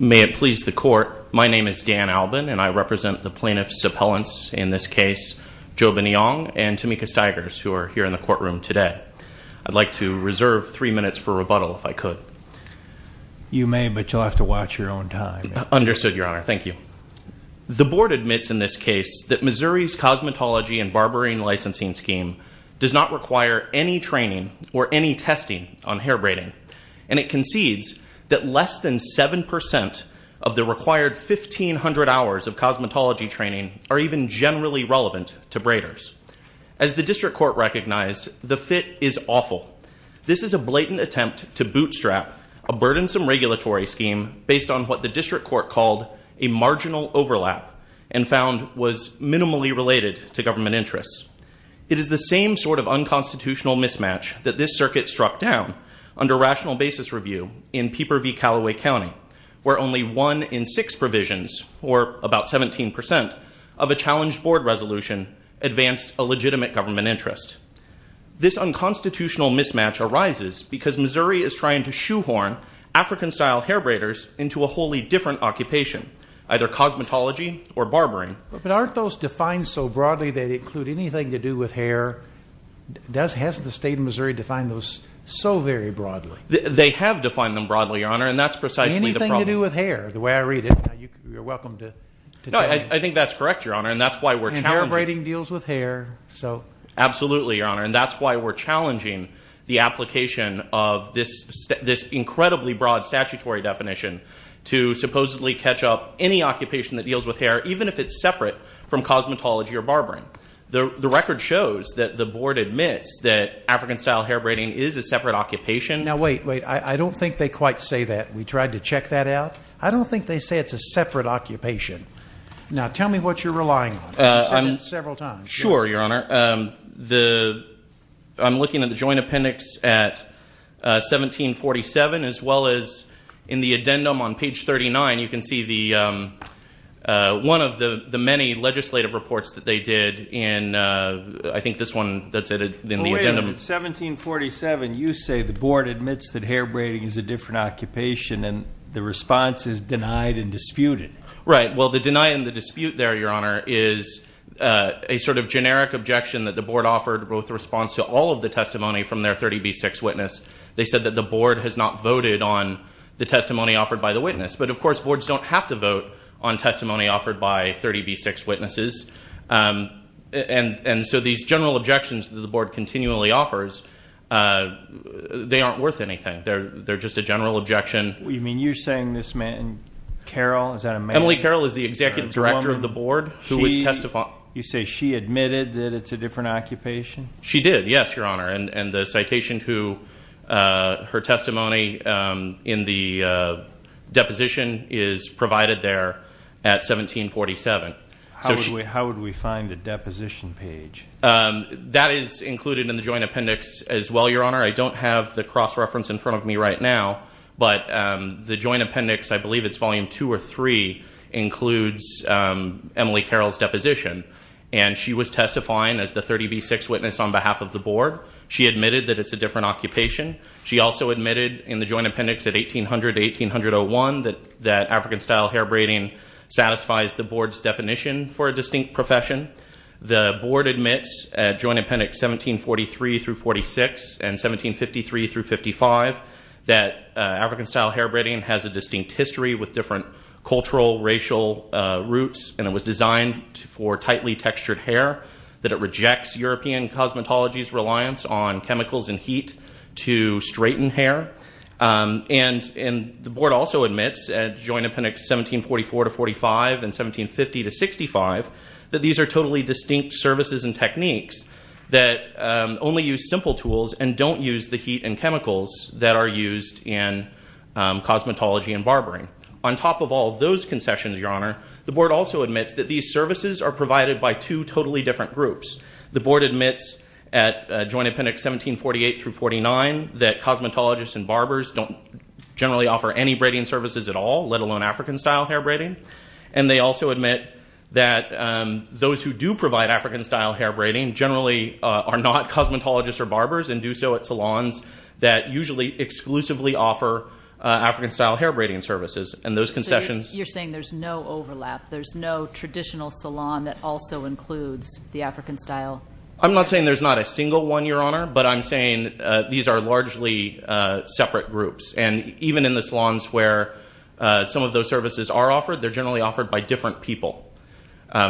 May it please the court, my name is Dan Albin and I represent the plaintiffs' appellants in this case, Ndioba Niang and Tamika Stigers, who are here in the courtroom. I'd like to reserve three minutes for rebuttal if I could. You may, but you'll have to watch your own time. Understood, Your Honor. Thank you. The board admits in this case that Missouri's cosmetology and barbering licensing scheme does not require any training or any testing on hair braiding, and it concedes that less than 7% of the required 1,500 hours of cosmetology training are even generally relevant to braiders. As the district court recognized, the fit is awful. This is a blatant attempt to bootstrap a burdensome regulatory scheme based on what the district court called a marginal overlap and found was minimally related to government interests. It is the same sort of unconstitutional mismatch that this circuit struck down under rational basis review in Pieper v. Calloway County, where only one in six provisions, or about 17%, of a challenged board resolution advanced a legitimate government interest. This unconstitutional mismatch arises because Missouri is trying to shoehorn African-style hair braiders into a wholly different occupation, either cosmetology or barbering. But aren't those defined so broadly they include anything to do with hair? Hasn't the state of Missouri defined those so very broadly? They have defined them broadly, Your Honor, and that's precisely the problem. Anything to do with hair, the way I read it? You're welcome to tell me. No, I think that's correct, Your Honor, and that's why we're challenging— And hair braiding deals with hair, so— Absolutely, Your Honor, and that's why we're challenging the application of this incredibly broad statutory definition to supposedly catch up any occupation that deals with hair, even if it's separate from cosmetology or barbering. The record shows that the board admits that African-style hair braiding is a separate occupation— Now, wait, wait. I don't think they quite say that. We tried to check that out. I don't think they say it's a separate occupation. Now, tell me what you're relying on. You've said it several times. Sure, Your Honor. I'm looking at the joint appendix at 1747, as well as in the addendum on page 39, you can see one of the many legislative reports that they did in, I think, this one that's in the addendum. Well, wait. In 1747, you say the board admits that hair braiding is a different occupation, and the response is denied and disputed. Right. Well, the deny and the dispute there, Your Honor, is a sort of generic objection that the board offered with response to all of the testimony from their 30B6 witness. They said that the board has not voted on the testimony offered by the witness. But, of course, boards don't have to vote on testimony offered by 30B6 witnesses. And so these general objections that the board continually offers, they aren't worth anything. They're just a general objection. You mean you're saying this man, Carol, is that a man? Emily Carol is the executive director of the board who was testifying. You say she admitted that it's a different occupation? She did, yes, Your Honor. And the citation to her testimony in the deposition is provided there at 1747. How would we find a deposition page? That is included in the joint appendix, as well, Your Honor. I don't have the The joint appendix, I believe it's volume two or three, includes Emily Carol's deposition. And she was testifying as the 30B6 witness on behalf of the board. She admitted that it's a different occupation. She also admitted in the joint appendix at 1800-1801 that African style hair braiding satisfies the board's definition for a distinct profession. The board admits at joint appendix 1743 through 46 and 1753 through 55 that African style hair braiding has a distinct history with different cultural, racial roots, and it was designed for tightly textured hair, that it rejects European cosmetology's reliance on chemicals and heat to straighten hair. And the board also admits at joint appendix 1744 to 45 and 1750 to 65 that these are totally distinct services and techniques that only use simple tools and don't use the heat and chemicals that are used in cosmetology and barbering. On top of all those concessions, Your Honor, the board also admits that these services are provided by two totally different groups. The board admits at joint appendix 1748 through 49 that cosmetologists and barbers don't generally offer any braiding services at all, let alone African style hair braiding. And they also admit that those who do provide African style hair braiding generally are not cosmetologists or barbers and do so at salons that usually exclusively offer African style hair braiding services. And those concessions- You're saying there's no overlap, there's no traditional salon that also includes the African style? I'm not saying there's not a single one, Your Honor, but I'm saying these are largely separate groups. And even in the salons where some of those services are offered, they're generally offered by different people.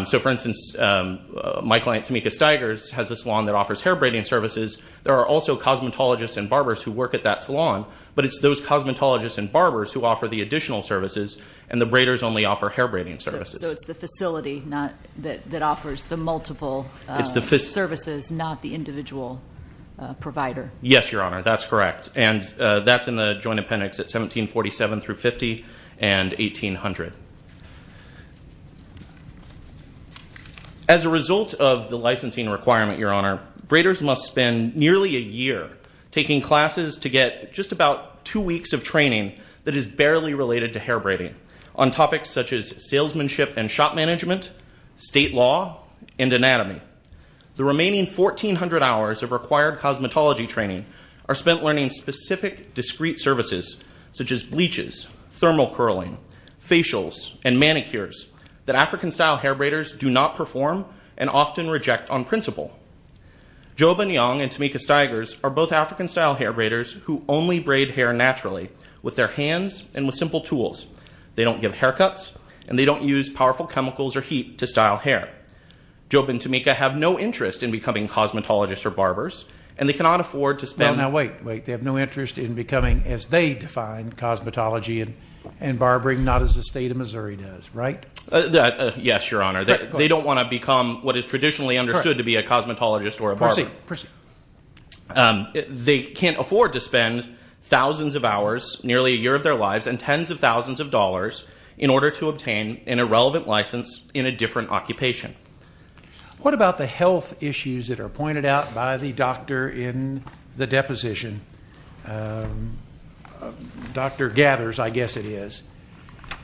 So for instance, my client, Tameka Stigers, has a salon that offers hair braiding services. There are also cosmetologists and barbers who work at that salon, but it's those cosmetologists and barbers who offer the additional services and the braiders only offer hair braiding services. So it's the facility that offers the multiple services, not the individual provider? Yes, Your Honor, that's correct. And that's in the joint appendix at 1747 through 50 and 1800. As a result of the licensing requirement, Your Honor, braiders must spend nearly a year taking classes to get just about two weeks of training that is barely related to hair braiding on topics such as salesmanship and shop management, state law, and anatomy. The remaining 1,400 hours of required cosmetology training are spent learning specific discrete services such as bleaches, thermal curling, facials, and manicures that African-style hair braiders do not perform and often reject on principle. Jobe and Young and Tameka Stigers are both African-style hair braiders who only braid hair naturally with their hands and with simple tools. They don't give haircuts, and they don't use powerful chemicals or heat to style hair. Jobe and Tameka have no interest in becoming cosmetologists or barbers, and they cannot afford to spend... No, no, wait, wait. They have no interest in becoming, as they define, cosmetology and barbering, not as the state of Missouri does, right? Yes, Your Honor. They don't want to become what is traditionally understood to be a cosmetologist or a barber. Proceed, proceed. They can't afford to spend thousands of hours, nearly a year of their lives, and tens of thousands of dollars in order to obtain an irrelevant license in a different occupation. What about the health issues that are pointed out by the doctor in the deposition? Dr. Gathers, I guess it is.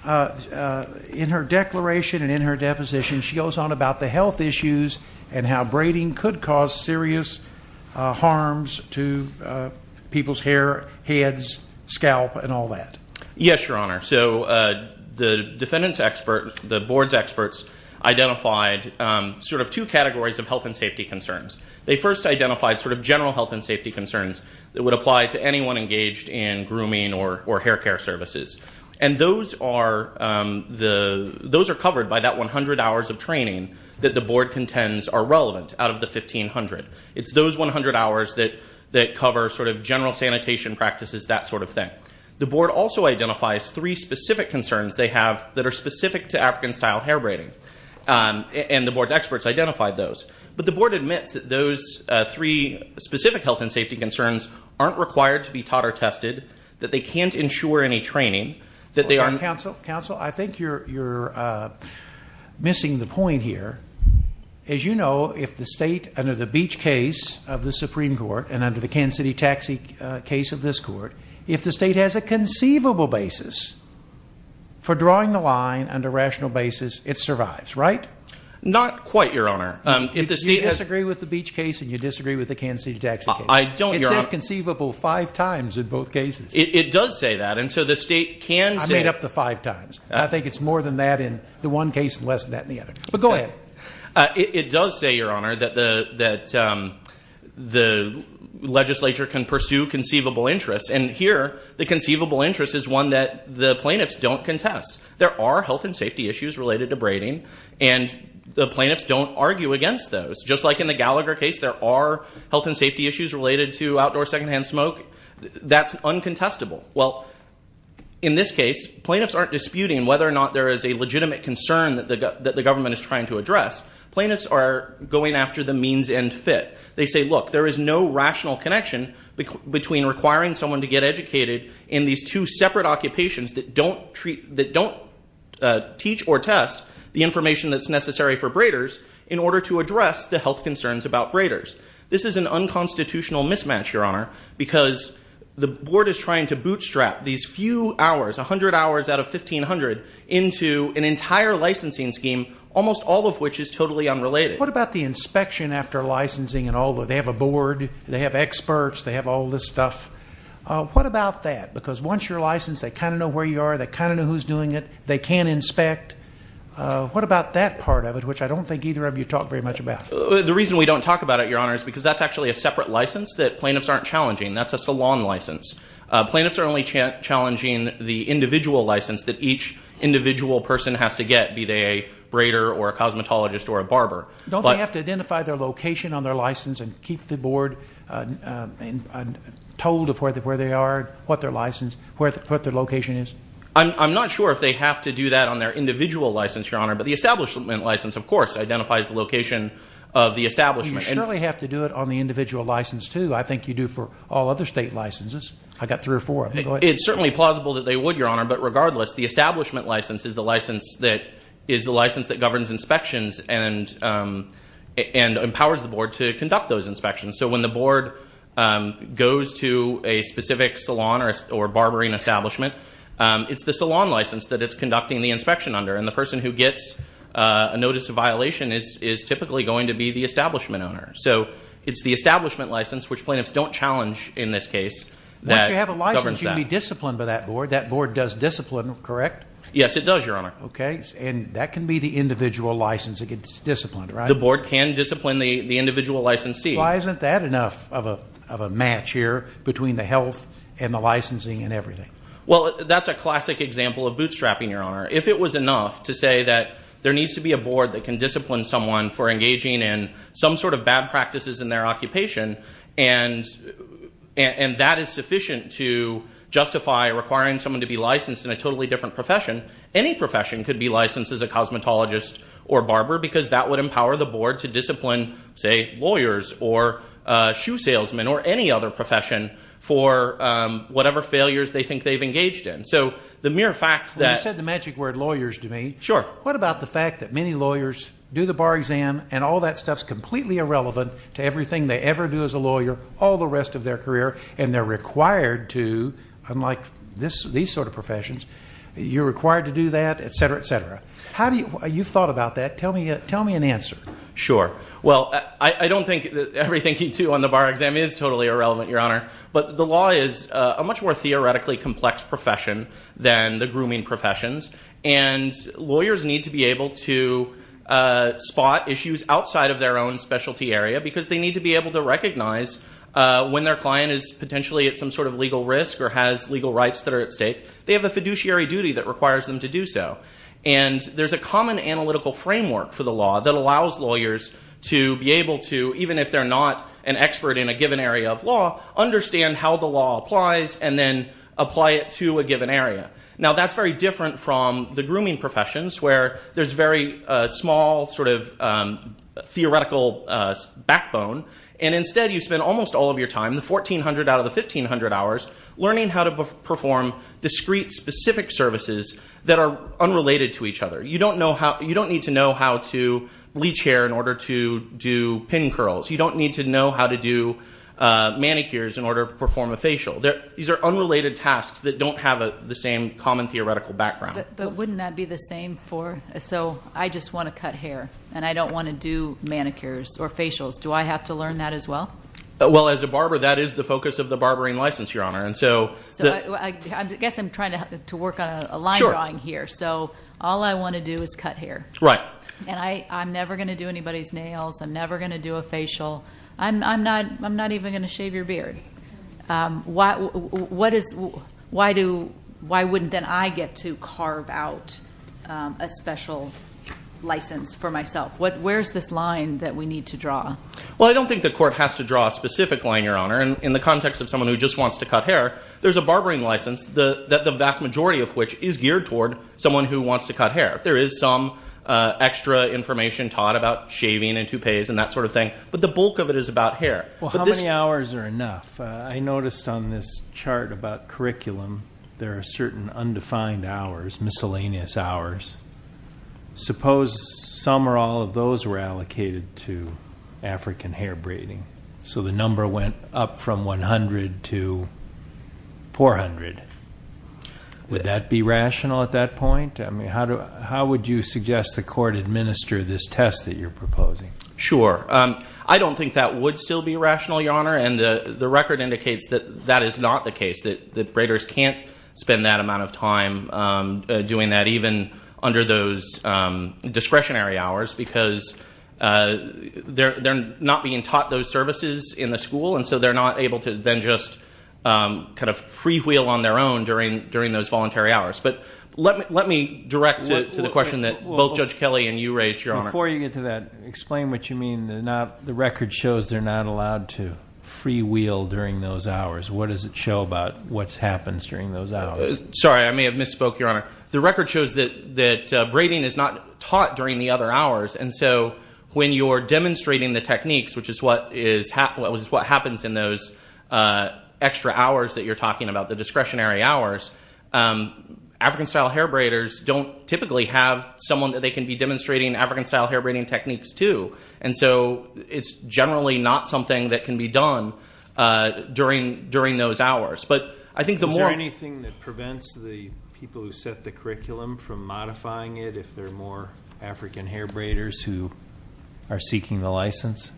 In her declaration and in her deposition, she goes on about the health issues and how braiding could cause serious harms to people's hair, heads, scalp, and all that. Yes, Your Honor. So the defendant's expert, the board's experts, identified sort of two categories of health and safety concerns. They first identified sort of general health and safety concerns that would apply to anyone engaged in grooming or hair care services. And those are covered by that 100 hours of training that the board contends are relevant out of the 1,500. It's those 100 hours that cover sort of general sanitation practices, that sort of thing. The board also identifies three specific concerns they have that are specific to African-style hair braiding. And the board's experts identified those. But the board admits that those three specific health and safety concerns aren't required to be taught or tested, that they can't ensure any training, that they are— Counsel, I think you're missing the point here. As you know, if the state, under the Beach case of the Supreme Court and under the Kansas City Taxi case of this court, if the state has a conceivable basis for drawing the line on a rational basis, it survives, right? Not quite, Your Honor. If you disagree with the Beach case and you disagree with the Kansas City Taxi case— I don't, Your Honor. It says conceivable five times in both cases. It does say that. And so the state can say— I made up the five times. I think it's more than that in the one case and less than that in the other. But go ahead. It does say, Your Honor, that the legislature can pursue conceivable interests. And here, the conceivable interest is one that the plaintiffs don't contest. There are health and safety issues related to braiding. And the plaintiffs don't argue against those. Just like in the Gallagher case, there are health and safety issues related to outdoor secondhand smoke. That's uncontestable. Well, in this case, plaintiffs aren't disputing whether or not there is a legitimate concern that the government is trying to address. Plaintiffs are going after the means and fit. They say, look, there is no rational connection between requiring someone to get educated in these two separate occupations that don't teach or test the information that's necessary for braiders in order to address the health concerns about braiders. This is an unconstitutional mismatch, Your Honor, because the board is trying to bootstrap these few hours, 100 hours out of 1,500, into an entire licensing scheme, almost all of which is totally unrelated. What about the inspection after licensing and all that? They have a board. They have experts. They have all this stuff. What about that? Because once you're licensed, they kind of know where you are. They kind of know who's doing it. They can inspect. What about that part of it, which I don't think either of you talk very much about? The reason we don't talk about it, Your Honor, is because that's actually a separate license that plaintiffs aren't challenging. That's a salon license. Plaintiffs are only challenging the individual license that each individual person has to get, be they a braider or a cosmetologist or a barber. Don't they have to identify their location on their license and keep the board told of where they are, what their license, what their location is? I'm not sure if they have to do that on their individual license, Your Honor, but the establishment license, of course, identifies the location of the establishment. You surely have to do it on the individual license, too. I think you do for all other state licenses. I've got three or four. It's certainly plausible that they would, Your Honor, but regardless, the establishment license is the license that governs inspections and empowers the board to conduct those inspections. So when the board goes to a specific salon or barbering establishment, it's the salon license that it's conducting the inspection under, and the person who gets a notice of violation is typically going to be the establishment owner. So it's the establishment license, which plaintiffs don't challenge in this case. Once you have a license, you can be disciplined by that board. That board does discipline, correct? Yes, it does, Your Honor. Okay. And that can be the individual license that gets disciplined, right? The board can discipline the individual licensee. Why isn't that enough of a match here between the health and the licensing and everything? Well, that's a classic example of bootstrapping, Your Honor. If it was enough to say that there needs to be a board that can discipline someone for engaging in some sort of bad practices in their occupation, and that is sufficient to justify requiring someone to be licensed in a totally different profession, any profession could be licensed as a cosmetologist or barber, because that would empower the board to discipline, say, So the mere fact that— You said the magic word lawyers to me. Sure. What about the fact that many lawyers do the bar exam, and all that stuff's completely irrelevant to everything they ever do as a lawyer all the rest of their career, and they're required to, unlike these sort of professions, you're required to do that, et cetera, et cetera. How do you—you've thought about that. Tell me an answer. Sure. Well, I don't think everything you do on the bar exam is totally irrelevant, Your Honor. But the law is a much more theoretically complex profession than the grooming professions, and lawyers need to be able to spot issues outside of their own specialty area because they need to be able to recognize when their client is potentially at some sort of legal risk or has legal rights that are at stake, they have a fiduciary duty that requires them to do so. And there's a common analytical framework for the law that allows lawyers to be able to, understand how the law applies, and then apply it to a given area. Now, that's very different from the grooming professions, where there's very small sort of theoretical backbone, and instead you spend almost all of your time, the 1,400 out of the 1,500 hours, learning how to perform discrete specific services that are unrelated to each other. You don't need to know how to leach hair in order to do pin curls. You don't need to know how to do manicures in order to perform a facial. These are unrelated tasks that don't have the same common theoretical background. But wouldn't that be the same for, so I just want to cut hair, and I don't want to do manicures or facials. Do I have to learn that as well? Well, as a barber, that is the focus of the barbering license, Your Honor. And so I guess I'm trying to work on a line drawing here. So all I want to do is cut hair. Right. And I'm never going to do anybody's nails. I'm never going to do a facial. I'm not even going to shave your beard. Why wouldn't then I get to carve out a special license for myself? Where's this line that we need to draw? Well, I don't think the court has to draw a specific line, Your Honor. And in the context of someone who just wants to cut hair, there's a barbering license that the vast majority of which is geared toward someone who wants to cut hair. There is some extra information taught about shaving and toupees and that sort of thing. But the bulk of it is about hair. Well, how many hours are enough? I noticed on this chart about curriculum, there are certain undefined hours, miscellaneous hours. Suppose some or all of those were allocated to African hair braiding. So the number went up from 100 to 400. Would that be rational at that point? How would you suggest the court administer this test that you're proposing? Sure. I don't think that would still be rational, Your Honor. And the record indicates that that is not the case, that braiders can't spend that amount of time doing that, even under those discretionary hours, because they're not being taught those services in the school. And so they're not able to then just free wheel on their own during those voluntary hours. But let me direct to the question that both Judge Kelly and you raised, Your Honor. Before you get to that, explain what you mean. The record shows they're not allowed to free wheel during those hours. What does it show about what happens during those hours? Sorry, I may have misspoke, Your Honor. The record shows that braiding is not taught during the other hours. And so when you're demonstrating the techniques, which is what happens in those extra hours that you're talking about, the discretionary hours, African-style hair braiders don't typically have someone that they can be demonstrating African-style hair braiding techniques to. And so it's generally not something that can be done during those hours. But I think the more- Is there anything that prevents the people who set the curriculum from modifying it if there are more African hair braiders who are seeking the license?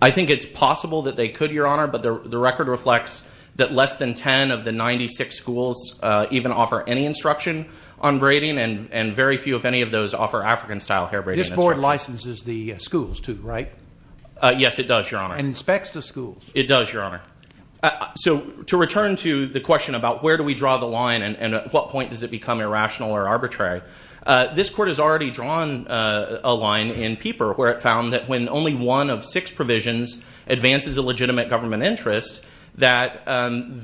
I think it's possible that they could, Your Honor. But the record reflects that less than 10 of the 96 schools even offer any instruction on braiding. And very few, if any, of those offer African-style hair braiding. This board licenses the schools too, right? Yes, it does, Your Honor. And inspects the schools. It does, Your Honor. So to return to the question about where do we draw the line and at what point does it become irrational or arbitrary, this court has already drawn a line in Pieper where it found that when only one of six provisions advances a legitimate government interest, that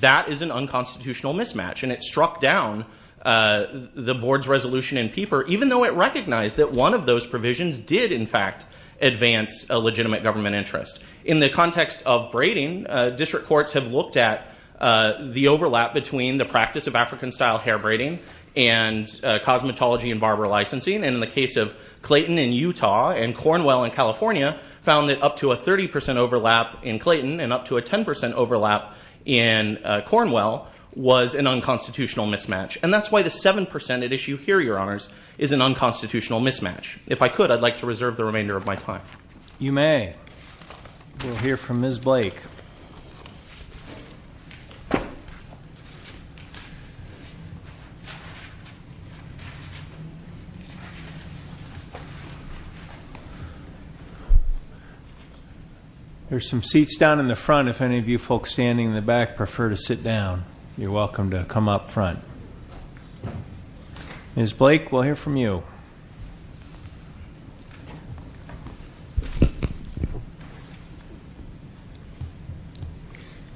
that is an unconstitutional mismatch. And it struck down the board's resolution in Pieper even though it recognized that one of those provisions did in fact advance a legitimate government interest. In the context of braiding, district courts have looked at the overlap between the practice of African-style hair braiding and cosmetology and barber licensing. And in the case of Clayton in Utah and Cornwell in California, found that up to a 30% overlap in Clayton and up to a 10% overlap in Cornwell was an unconstitutional mismatch. And that's why the 7% at issue here, Your Honors, is an unconstitutional mismatch. If I could, I'd like to reserve the remainder of my time. You may. We'll hear from Ms. Blake. There are some seats down in the front. If any of you folks standing in the back prefer to sit down, you're welcome to come up front. Ms. Blake, we'll hear from you.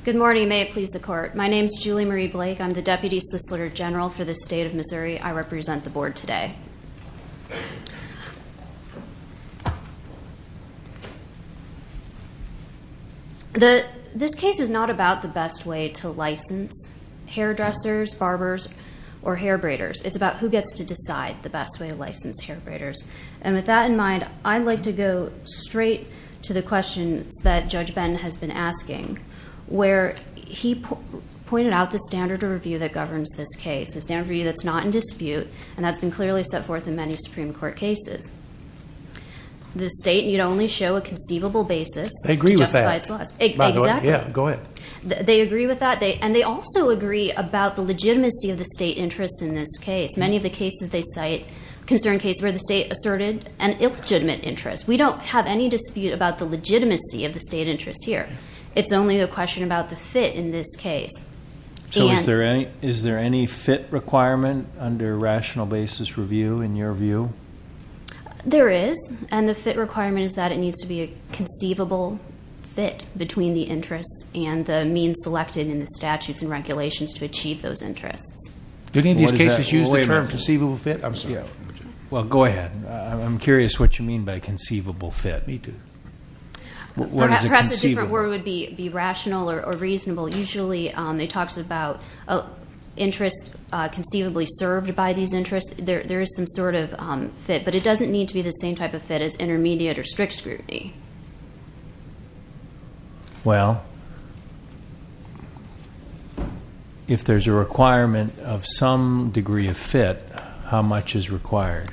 Good morning. May it please the court. My name is Julie Marie Blake. I'm the Deputy Solicitor General for the state of Missouri. I represent the board today. This case is not about the best way to license hairdressers, barbers, or hair braiders. It's about who gets to decide the best way to license hair braiders. And with that in mind, I'd like to go straight to the questions that Judge Ben has been asking, where he pointed out the standard of review that governs this case, a standard of review that's not in dispute, and that's been clearly set forth in many Supreme Court cases. The state need only show a conceivable basis. They agree with that. To justify its laws. Exactly. Yeah, go ahead. They agree with that. And they also agree about the legitimacy of the state interest in this case. Many of the cases they cite, concern cases where the state asserted an illegitimate interest. We don't have any dispute about the legitimacy of the state interest here. It's only a question about the fit in this case. So is there any fit requirement under rational basis review, in your view? There is. And the fit requirement is that it needs to be a conceivable fit between the interests and the means selected in the statutes and regulations to achieve those interests. Do any of these cases use the term conceivable fit? I'm sorry. Well, go ahead. I'm curious what you mean by conceivable fit. Me too. Perhaps a different word would be rational or reasonable. Usually, it talks about interest conceivably served by these interests. There is some sort of fit. But it doesn't need to be the same type of fit as intermediate or strict scrutiny. Well, if there's a requirement of some degree of fit, how much is required?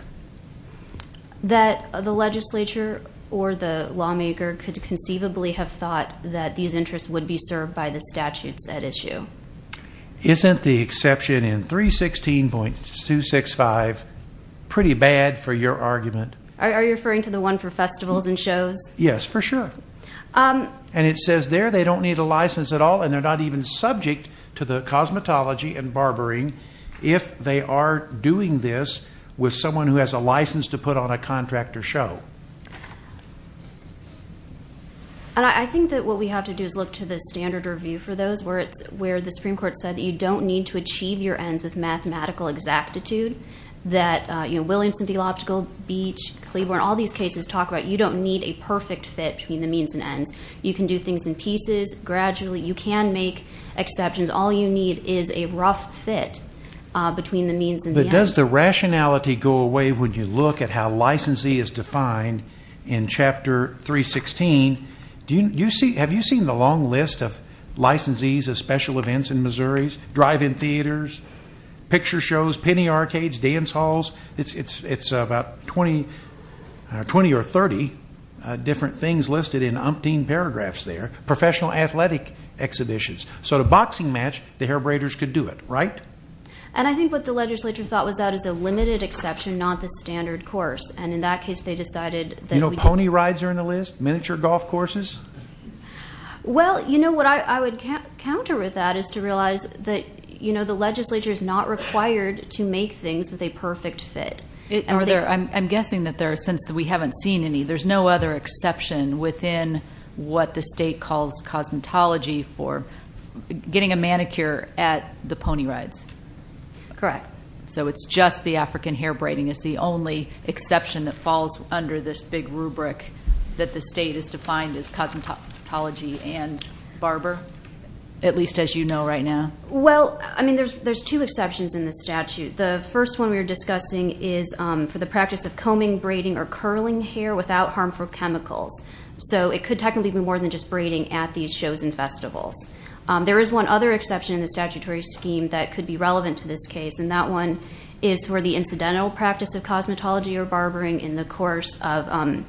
That the legislature or the lawmaker could conceivably have thought that these interests would be served by the statutes at issue. Isn't the exception in 316.265 pretty bad for your argument? Are you referring to the one for festivals and shows? Yes, for sure. And it says there they don't need a license at all. And they're not even subject to the cosmetology and barbering if they are doing this with someone who has a license to put on a contract or show. And I think that what we have to do is look to the standard review for those where the Supreme Court said you don't need to achieve your ends with mathematical exactitude. Williamson, Theological, Beach, Cleaborn, all these cases talk about you don't need a perfect fit between the means and ends. You can do things in pieces. Gradually, you can make exceptions. All you need is a rough fit between the means and the ends. But does the rationality go away when you look at how licensee is defined in Chapter 316? Have you seen the long list of licensees of special events in Missouris? Drive-in theaters, picture shows, penny arcades, dance halls? It's about 20 or 30 different things listed in umpteen paragraphs there. Professional athletic exhibitions. So the boxing match, the hair braiders could do it, right? And I think what the legislature thought was that is a limited exception, not the standard course. And in that case, they decided that we could. You know, pony rides are in the list. Miniature golf courses? Well, you know, what I would counter with that is to realize that the legislature is not required to make things with a perfect fit. I'm guessing that there are, since we haven't seen any, there's no other exception within what the state calls cosmetology for getting a manicure at the pony rides. Correct. So it's just the African hair braiding is the only exception that falls under this big rubric that the state has defined as cosmetology and barber, at least as you know right now? Well, I mean, there's two exceptions in the statute. The first one we were discussing is for the practice of combing, braiding, or curling hair without harmful chemicals. So it could technically be more than just braiding at these shows and festivals. There is one other exception in the statutory scheme that could be relevant to this case. And that one is for the incidental practice of cosmetology or barbering in the course of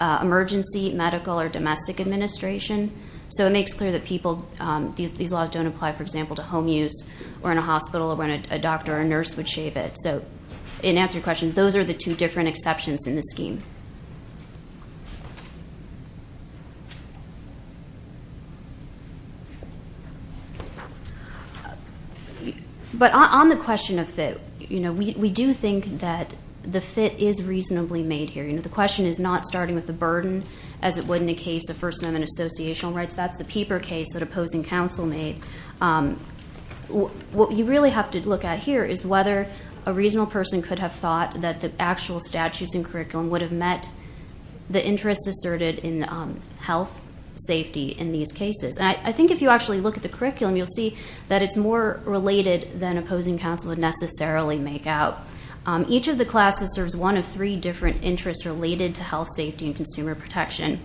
emergency medical or domestic administration. So it makes clear that these laws don't apply, for example, to home use or in a hospital or when a doctor or a nurse would shave it. So in answer to your question, those are the two different exceptions in the scheme. But on the question of fit, we do think that the fit is reasonably made here. The question is not starting with the burden, as it would in a case of First Amendment associational rights. That's the Pieper case that opposing counsel made. What you really have to look at here is whether a reasonable person could have thought that the actual statutes and curriculum would have met the interests asserted in health, safety, in these cases. And I think if you actually look at the curriculum, you'll see that it's more related than opposing counsel would necessarily make out. Each of the classes serves one of three different interests related to health, safety, and consumer protection.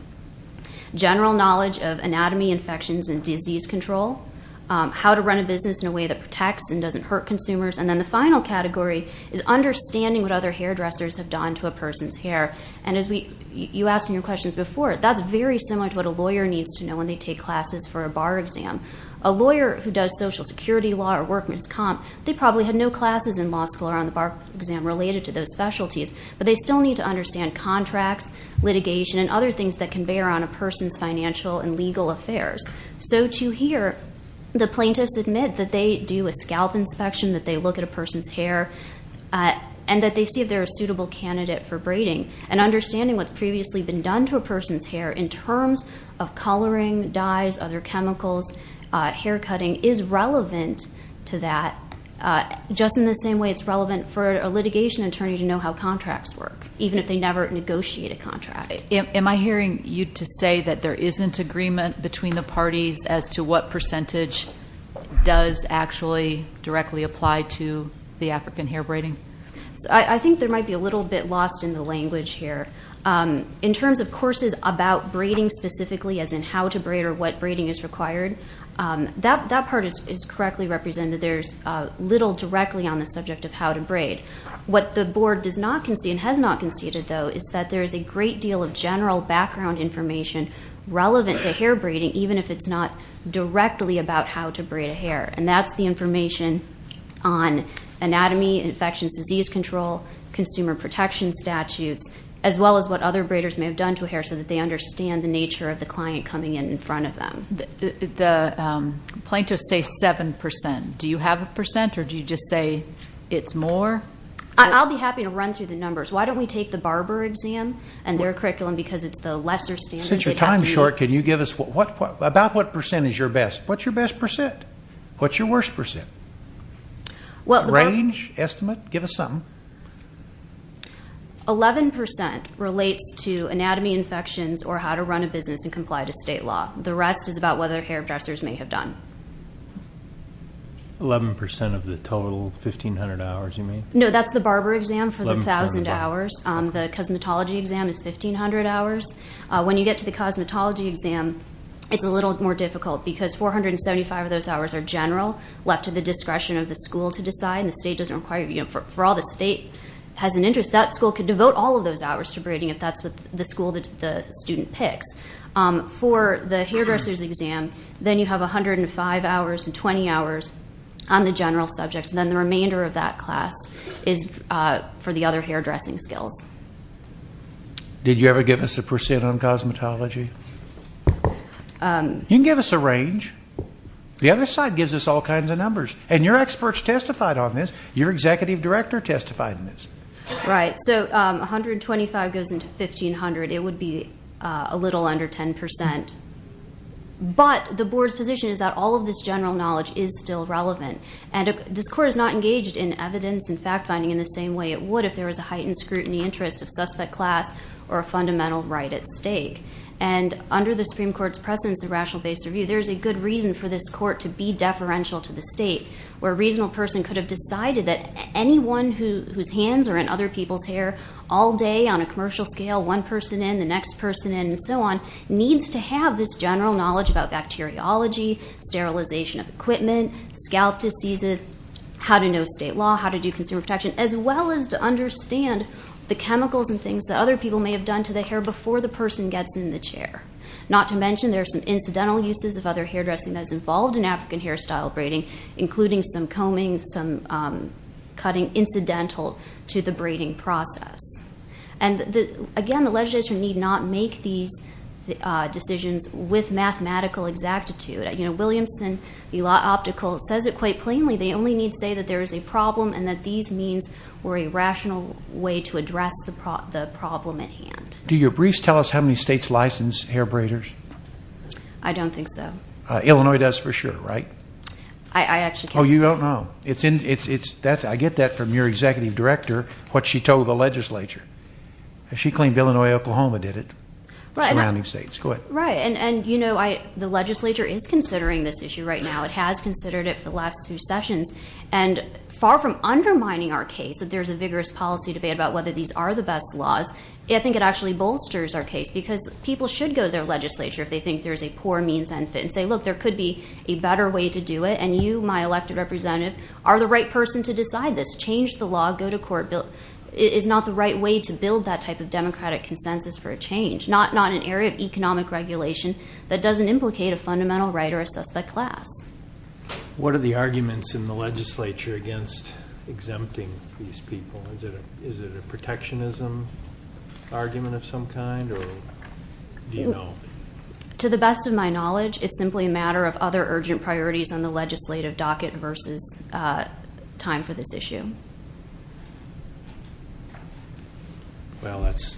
General knowledge of anatomy, infections, and disease control. How to run a business in a way that protects and doesn't hurt consumers. And then the final category is understanding what other hairdressers have done to a person's hair. And as you asked in your questions before, that's very similar to what a lawyer needs to know when they take classes for a bar exam. A lawyer who does social security law or workman's comp, they probably had no classes in law school or on the bar exam related to those specialties. But they still need to understand contracts, litigation, and other things that can bear on a person's financial and legal affairs. So to hear the plaintiffs admit that they do a scalp inspection, that they look at a person's hair, and that they see if they're a suitable candidate for braiding and understanding what's previously been done to a person's hair in terms of coloring, dyes, other chemicals, haircutting is relevant to that. Just in the same way it's relevant for a litigation attorney to know how contracts work, even if they never negotiate a contract. Am I hearing you to say that there isn't agreement between the parties as to what percentage does actually directly apply to the African hair braiding? I think there might be a little bit lost in the language here. In terms of courses about braiding specifically, as in how to braid or what braiding is required, that part is correctly represented. There's little directly on the subject of how to braid. What the board does not concede and has not conceded, though, is that there is a great deal of general background information relevant to hair braiding, even if it's not directly about how to braid a hair. And that's the information on anatomy, infections, disease control, consumer protection statutes, as well as what other braiders may have done to hair so that they understand the nature of the client coming in in front of them. The plaintiffs say 7%. Do you have a percent, or do you just say it's more? I'll be happy to run through the numbers. Why don't we take the barber exam and their curriculum, because it's the lesser standard. Since your time's short, can you give us, about what percent is your best? What's your best percent? What's your worst percent? Range, estimate, give us something. 11% relates to anatomy, infections, or how to run a business and comply to state law. The rest is about whether hairdressers may have done. 11% of the total 1,500 hours, you mean? No, that's the barber exam for the 1,000 hours. The cosmetology exam is 1,500 hours. When you get to the cosmetology exam, it's a little more difficult, because 475 of those hours are general, left to the discretion of the school to decide. And the state doesn't require, for all the state has an interest, that school could devote all of those hours to braiding if that's what the school, the student picks. For the hairdressers exam, then you have 105 hours and 20 hours on the general subjects. Then the remainder of that class is for the other hairdressing skills. Did you ever give us a percent on cosmetology? You can give us a range. The other side gives us all kinds of numbers. And your experts testified on this. Your executive director testified on this. Right, so 125 goes into 1,500. It would be a little under 10%. But the board's position is that all of this general knowledge is still relevant. And this court is not engaged in evidence and fact-finding in the same way it would if there was a heightened scrutiny interest of suspect class or a fundamental right at stake. And under the Supreme Court's precedence of rational based review, there's a good reason for this court to be deferential to the state, where a reasonable person could have decided that anyone whose hands are in other people's hair all day on a commercial scale, one person in, the next person in, and so on, needs to have this general knowledge about bacteriology, sterilization of equipment, scalp diseases, how to know state law, how to do consumer protection, as well as to understand the chemicals and things that other people may have done to the hair before the person gets in the chair. Not to mention there are some incidental uses of other hairdressing that is involved in African hairstyle braiding, including some combing, some cutting incidental to the braiding process. And again, the legislature need not make these decisions with mathematical exactitude. Williamson, the law optical, says it quite plainly. They only need to say that there is a problem and that these means were a rational way to address the problem at hand. Do your briefs tell us how many states license hair braiders? I don't think so. Illinois does for sure, right? I actually can't say. Oh, you don't know. I get that from your executive director, what she told the legislature. She claimed Illinois, Oklahoma did it, surrounding states. Go ahead. And the legislature is considering this issue right now. It has considered it for the last two sessions. And far from undermining our case that there's a vigorous policy debate about whether these are the best laws, I think it actually bolsters our case because people should go to their legislature if they think there's a poor means and fit and say, look, there could be a better way to do it. And you, my elected representative, are the right person to decide this. Change the law, go to court. It is not the right way to build that type of democratic consensus for a change. Not an area of economic regulation that doesn't implicate a fundamental right or a suspect class. What are the arguments in the legislature against exempting these people? Is it a protectionism argument of some kind? Or do you know? To the best of my knowledge, it's simply a matter of other urgent priorities on the legislative docket versus time for this issue. Well, that's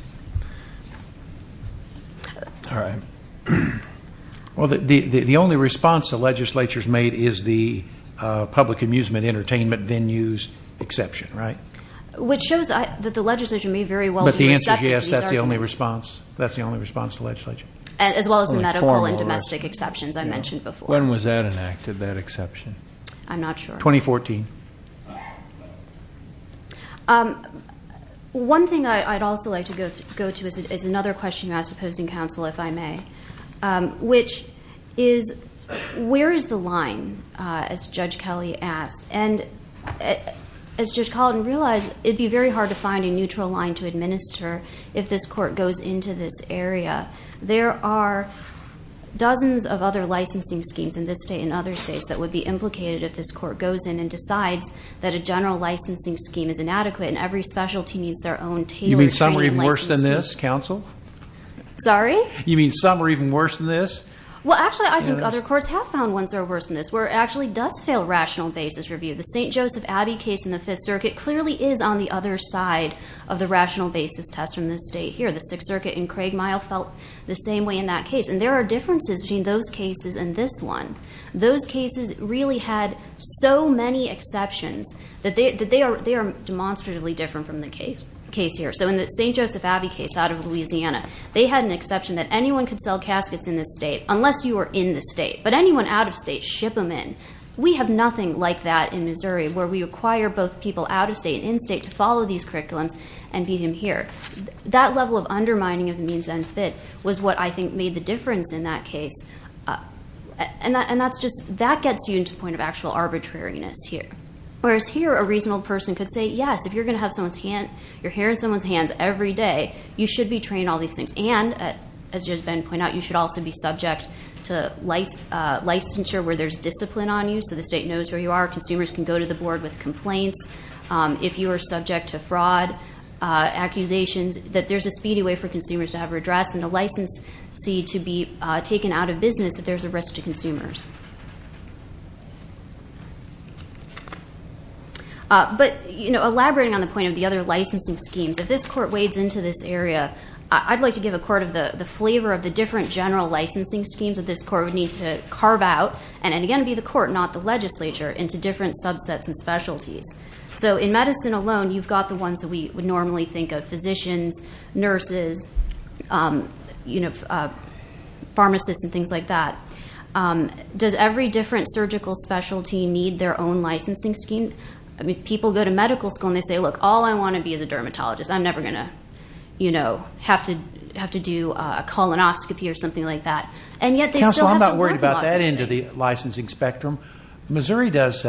all right. Well, the only response the legislature's made is the public amusement entertainment venues exception, right? Which shows that the legislature may very well But the answer is yes, that's the only response. That's the only response to legislature. As well as the medical and domestic exceptions When was that enacted, that exception? I'm not sure. 2014. One thing I'd also like to go to is another question you asked, opposing counsel, if I may. Which is, where is the line? As Judge Kelly asked. And as Judge Caldwell realized, it'd be very hard to find a neutral line to administer if this court goes into this area. There are dozens of other licensing schemes in this state and other states that would be implicated if this court goes in that a general licensing scheme is inadequate and every specialty needs their own tailored You mean some are even worse than this, counsel? Sorry? You mean some are even worse than this? Well, actually, I think other courts have found ones that are worse than this, where it actually does fail rational basis review. The St. Joseph Abbey case in the Fifth Circuit clearly is on the other side of the rational basis test from this state here. The Sixth Circuit in Craig Mile felt the same way in that case. And there are differences between those cases and this one. Those cases really had so many exceptions that they are demonstratively different from the case here. So in the St. Joseph Abbey case out of Louisiana, they had an exception that anyone could sell caskets in this state unless you were in the state. But anyone out of state, ship them in. We have nothing like that in Missouri, where we require both people out of state and in state to follow these curriculums and be in here. That level of undermining of the means unfit was what I think made the difference in that case. And that's just, that gets you into the point of actual arbitrariness here. Whereas here, a reasonable person could say, yes, if you're going to have someone's hand, your hair in someone's hands every day, you should be trained in all these things. And as you, as Ben pointed out, you should also be subject to licensure where there's discipline on you. So the state knows where you are. Consumers can go to the board with complaints. If you are subject to fraud accusations, that there's a speedy way for consumers to have a redress and a licensee to be taken out of business if there's a risk to consumers. But elaborating on the point of the other licensing schemes, if this court wades into this area, I'd like to give a court of the flavor of the different general licensing schemes that this court would need to carve out, and again, be the court, not the legislature, into different subsets and specialties. So in medicine alone, you've got the ones that we would normally think of, you know, pharmacists and things like that. Does every different surgical specialty need their own licensing scheme? I mean, people go to medical school and they say, look, all I want to be is a dermatologist. I'm never going to, you know, have to do a colonoscopy or something like that. And yet they still have to work a lot of things. Counselor, I'm not worried about that into the licensing spectrum. Missouri does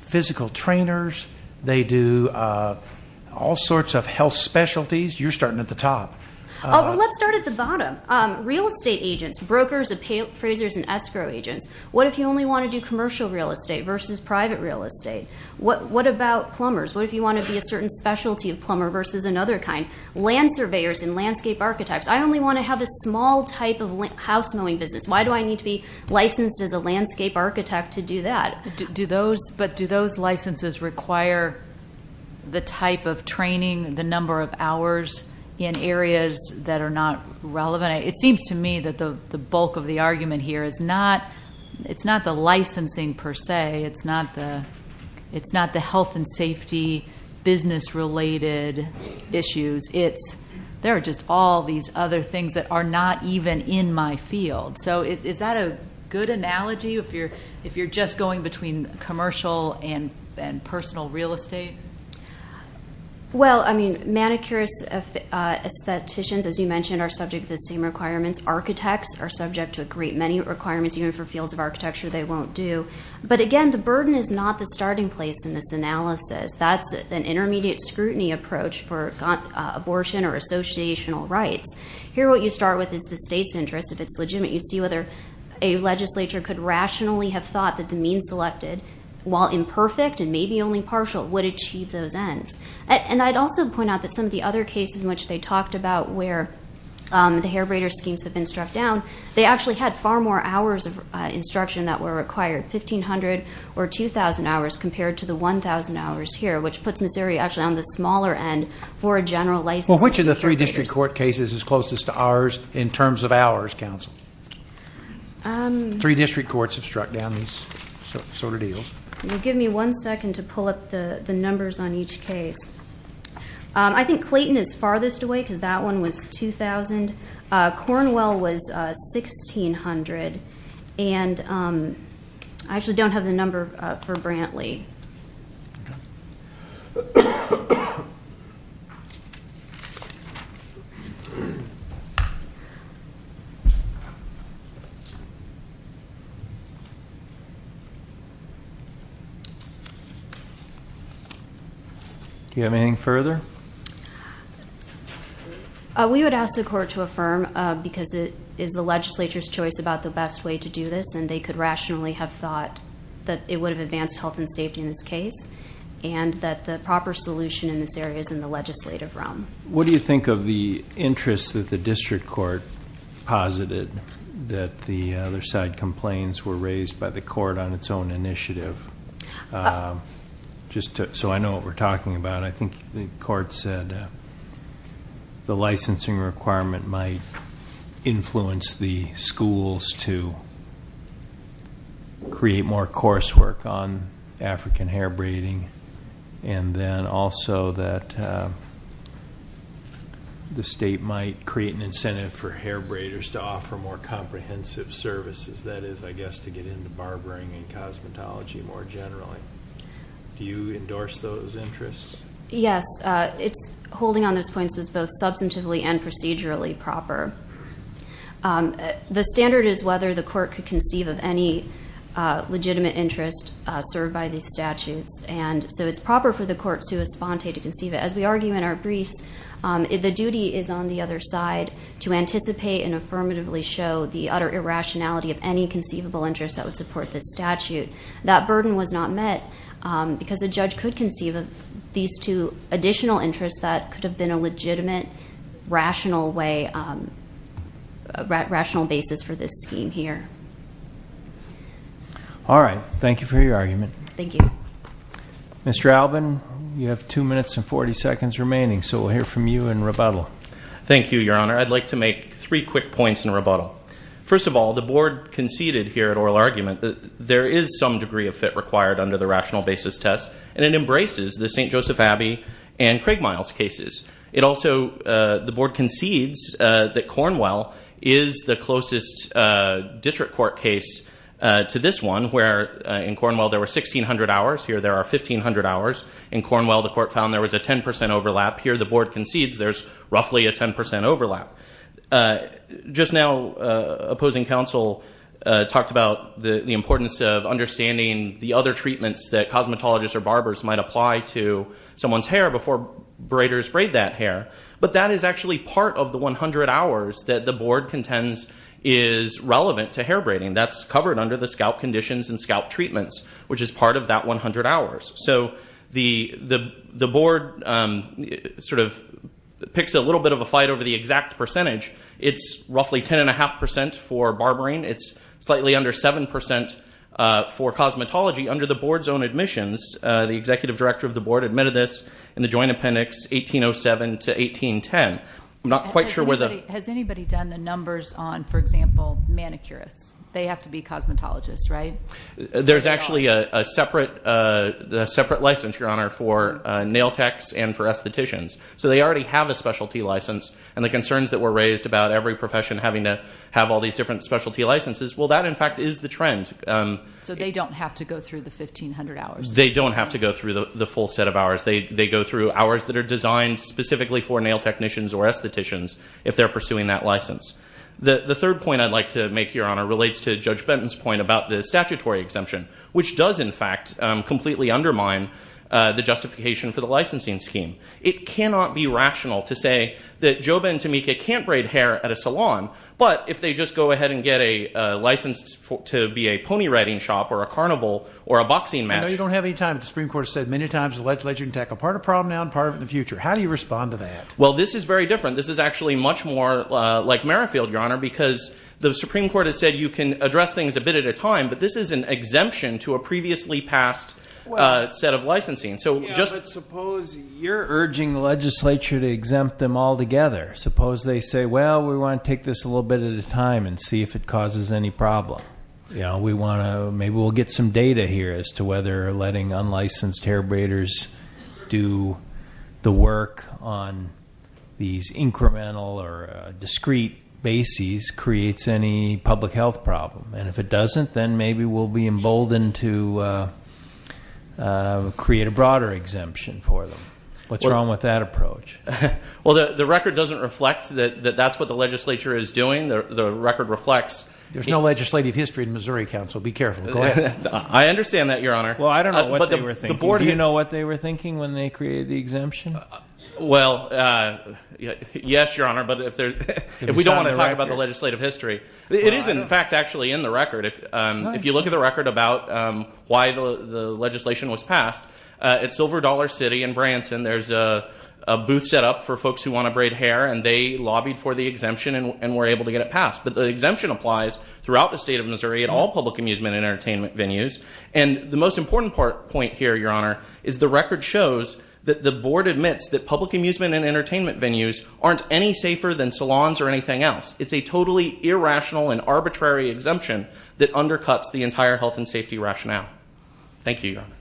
physical trainers. They do all sorts of health specialties. You're starting at the top. Oh, let's start at the bottom. Real estate agents, brokers, appraisers, and escrow agents. What if you only want to do commercial real estate versus private real estate? What about plumbers? What if you want to be a certain specialty of plumber versus another kind? Land surveyors and landscape architects. I only want to have a small type of house mowing business. Why do I need to be licensed as a landscape architect to do that? But do those licenses require the type of training, the number of hours in areas that are not relevant? It seems to me that the bulk of the argument here is not the licensing per se. It's not the health and safety business related issues. There are just all these other things that are not even in my field. So is that a good analogy if you're just going between commercial and personal real estate? Well, manicurists, aestheticians, as you mentioned, are subject to the same requirements. Architects are subject to a great many requirements. Even for fields of architecture, they won't do. But again, the burden is not the starting place in this analysis. That's an intermediate scrutiny approach for abortion or associational rights. Here, what you start with is the state's interest. If it's legitimate, you see whether a legislature could rationally have thought that the means selected, while imperfect and maybe only partial, would achieve those ends. And I'd also point out that some of the other cases in which they talked about where the hair braider schemes have been struck down, they actually had far more hours of instruction that were required, 1,500 or 2,000 hours, compared to the 1,000 hours here, which puts Missouri actually on the smaller end for a general license. Well, which of the three district court cases is closest to ours in terms of hours, counsel? Three district courts have struck down these sort of deals. Can you give me one second to pull up the numbers on each case? I think Clayton is farthest away, because that one was 2,000. Cornwell was 1,600. And I actually don't have the number for Brantley. Do you have anything further? We would ask the court to affirm, because it is the legislature's choice about the best way to do this, and they could rationally have thought that it would have advanced health and safety in this case, and that the proper solution in this area is in the legislative realm. What do you think of the interest that the district court posited that the other side complaints were raised by the court on its own initiative? So I know what we're talking about. I think the court said the licensing requirement might influence the schools to create more coursework on African hair braiding, and then also that the state might create an incentive for hair braiders to offer more comprehensive services. That is, I guess, to get into barbering and cosmetology more generally. Do you endorse those interests? Yes. It's holding on those points was both substantively and procedurally proper. The standard is whether the court could conceive of any legitimate interest served by these statutes. And so it's proper for the court, sua sponte, to conceive it. As we argue in our briefs, the duty is on the other side to anticipate and affirmatively show the utter irrationality of any conceivable interest that would support this statute. That burden was not met because a judge could conceive of these two additional interests that could have been a legitimate, rational basis for this scheme here. All right. Thank you for your argument. Thank you. Mr. Albin, you have two minutes and 40 seconds remaining, so we'll hear from you in rebuttal. Thank you, Your Honor. I'd like to make three quick points in rebuttal. First of all, the board conceded here at oral argument that there is some degree of fit required under the rational basis test, and it embraces the St. Joseph Abbey and Craig Miles cases. The board concedes that Cornwell is the closest district court case to this one, where in Cornwell there were 1,600 hours. Here there are 1,500 hours. In Cornwell, the court found there was a 10% overlap. Here the board concedes there's roughly a 10% overlap. Just now, opposing counsel talked about the importance of understanding the other treatments that cosmetologists or barbers might apply to someone's hair before braiders braid that hair. But that is actually part of the 100 hours that the board contends is relevant to hair braiding. That's covered under the scalp conditions and scalp treatments, which is part of that 100 hours. So the board sort of picks a little bit of a fight over the exact percentage. It's roughly 10.5% for barbering. It's slightly under 7% for cosmetology. Under the board's own admissions, the executive director of the board admitted this in the joint appendix 1807 to 1810. I'm not quite sure where the- Has anybody done the numbers on, for example, manicurists? They have to be cosmetologists, right? There's actually a separate license, Your Honor, for nail techs and for estheticians. So they already have a specialty license. And the concerns that were raised about every profession having to have all these different specialty licenses, well, that, in fact, is the trend. So they don't have to go through the 1,500 hours? They don't have to go through the full set of hours. They go through hours that are designed specifically for nail technicians or estheticians if they're pursuing that license. The third point I'd like to make, Your Honor, relates to Judge Benton's point about the statutory exemption, which does, in fact, completely undermine the justification for the licensing scheme. It cannot be rational to say that Joba and Tamika can't braid hair at a salon, but if they just go ahead and get a license to be a pony riding shop or a carnival or a boxing match- I know you don't have any time, but the Supreme Court has said many times the legislature can tackle part of the problem now and part of it in the future. How do you respond to that? Well, this is very different. This is actually much more like Merrifield, Your Honor, because the Supreme Court has said you can address things a bit at a time, but this is an exemption to a previously passed set of licensing. Suppose you're urging the legislature to exempt them altogether. Suppose they say, well, we want to take this a little bit at a time and see if it causes any problem. Maybe we'll get some data here as to whether letting unlicensed hair braiders do the work on these incremental or discrete bases creates any public health problem. And if it doesn't, then maybe we'll be emboldened to create a broader exemption for them. What's wrong with that approach? Well, the record doesn't reflect that that's what the legislature is doing. The record reflects- There's no legislative history in Missouri Council. Be careful. Go ahead. I understand that, Your Honor. Well, I don't know what they were thinking. Do you know what they were thinking when they created the exemption? Well, yes, Your Honor. But if we don't want to talk about the legislative history, it is in fact actually in the record. If you look at the record about why the legislation was passed, at Silver Dollar City in Branson, there's a booth set up for folks who want to braid hair, and they lobbied for the exemption and were able to get it passed. But the exemption applies throughout the state of Missouri at all public amusement and entertainment venues. And the most important point here, Your Honor, is the record shows that the board admits that public amusement and entertainment venues aren't any safer than salons or anything else. It's a totally irrational and arbitrary exemption that undercuts the entire health and safety rationale. Thank you, Your Honor.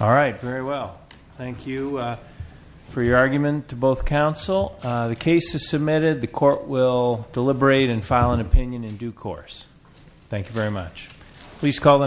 All right. Very well. Thank you for your argument to both counsel. The case is submitted. The court will deliberate and file an opinion in due course. Thank you very much. Please call the.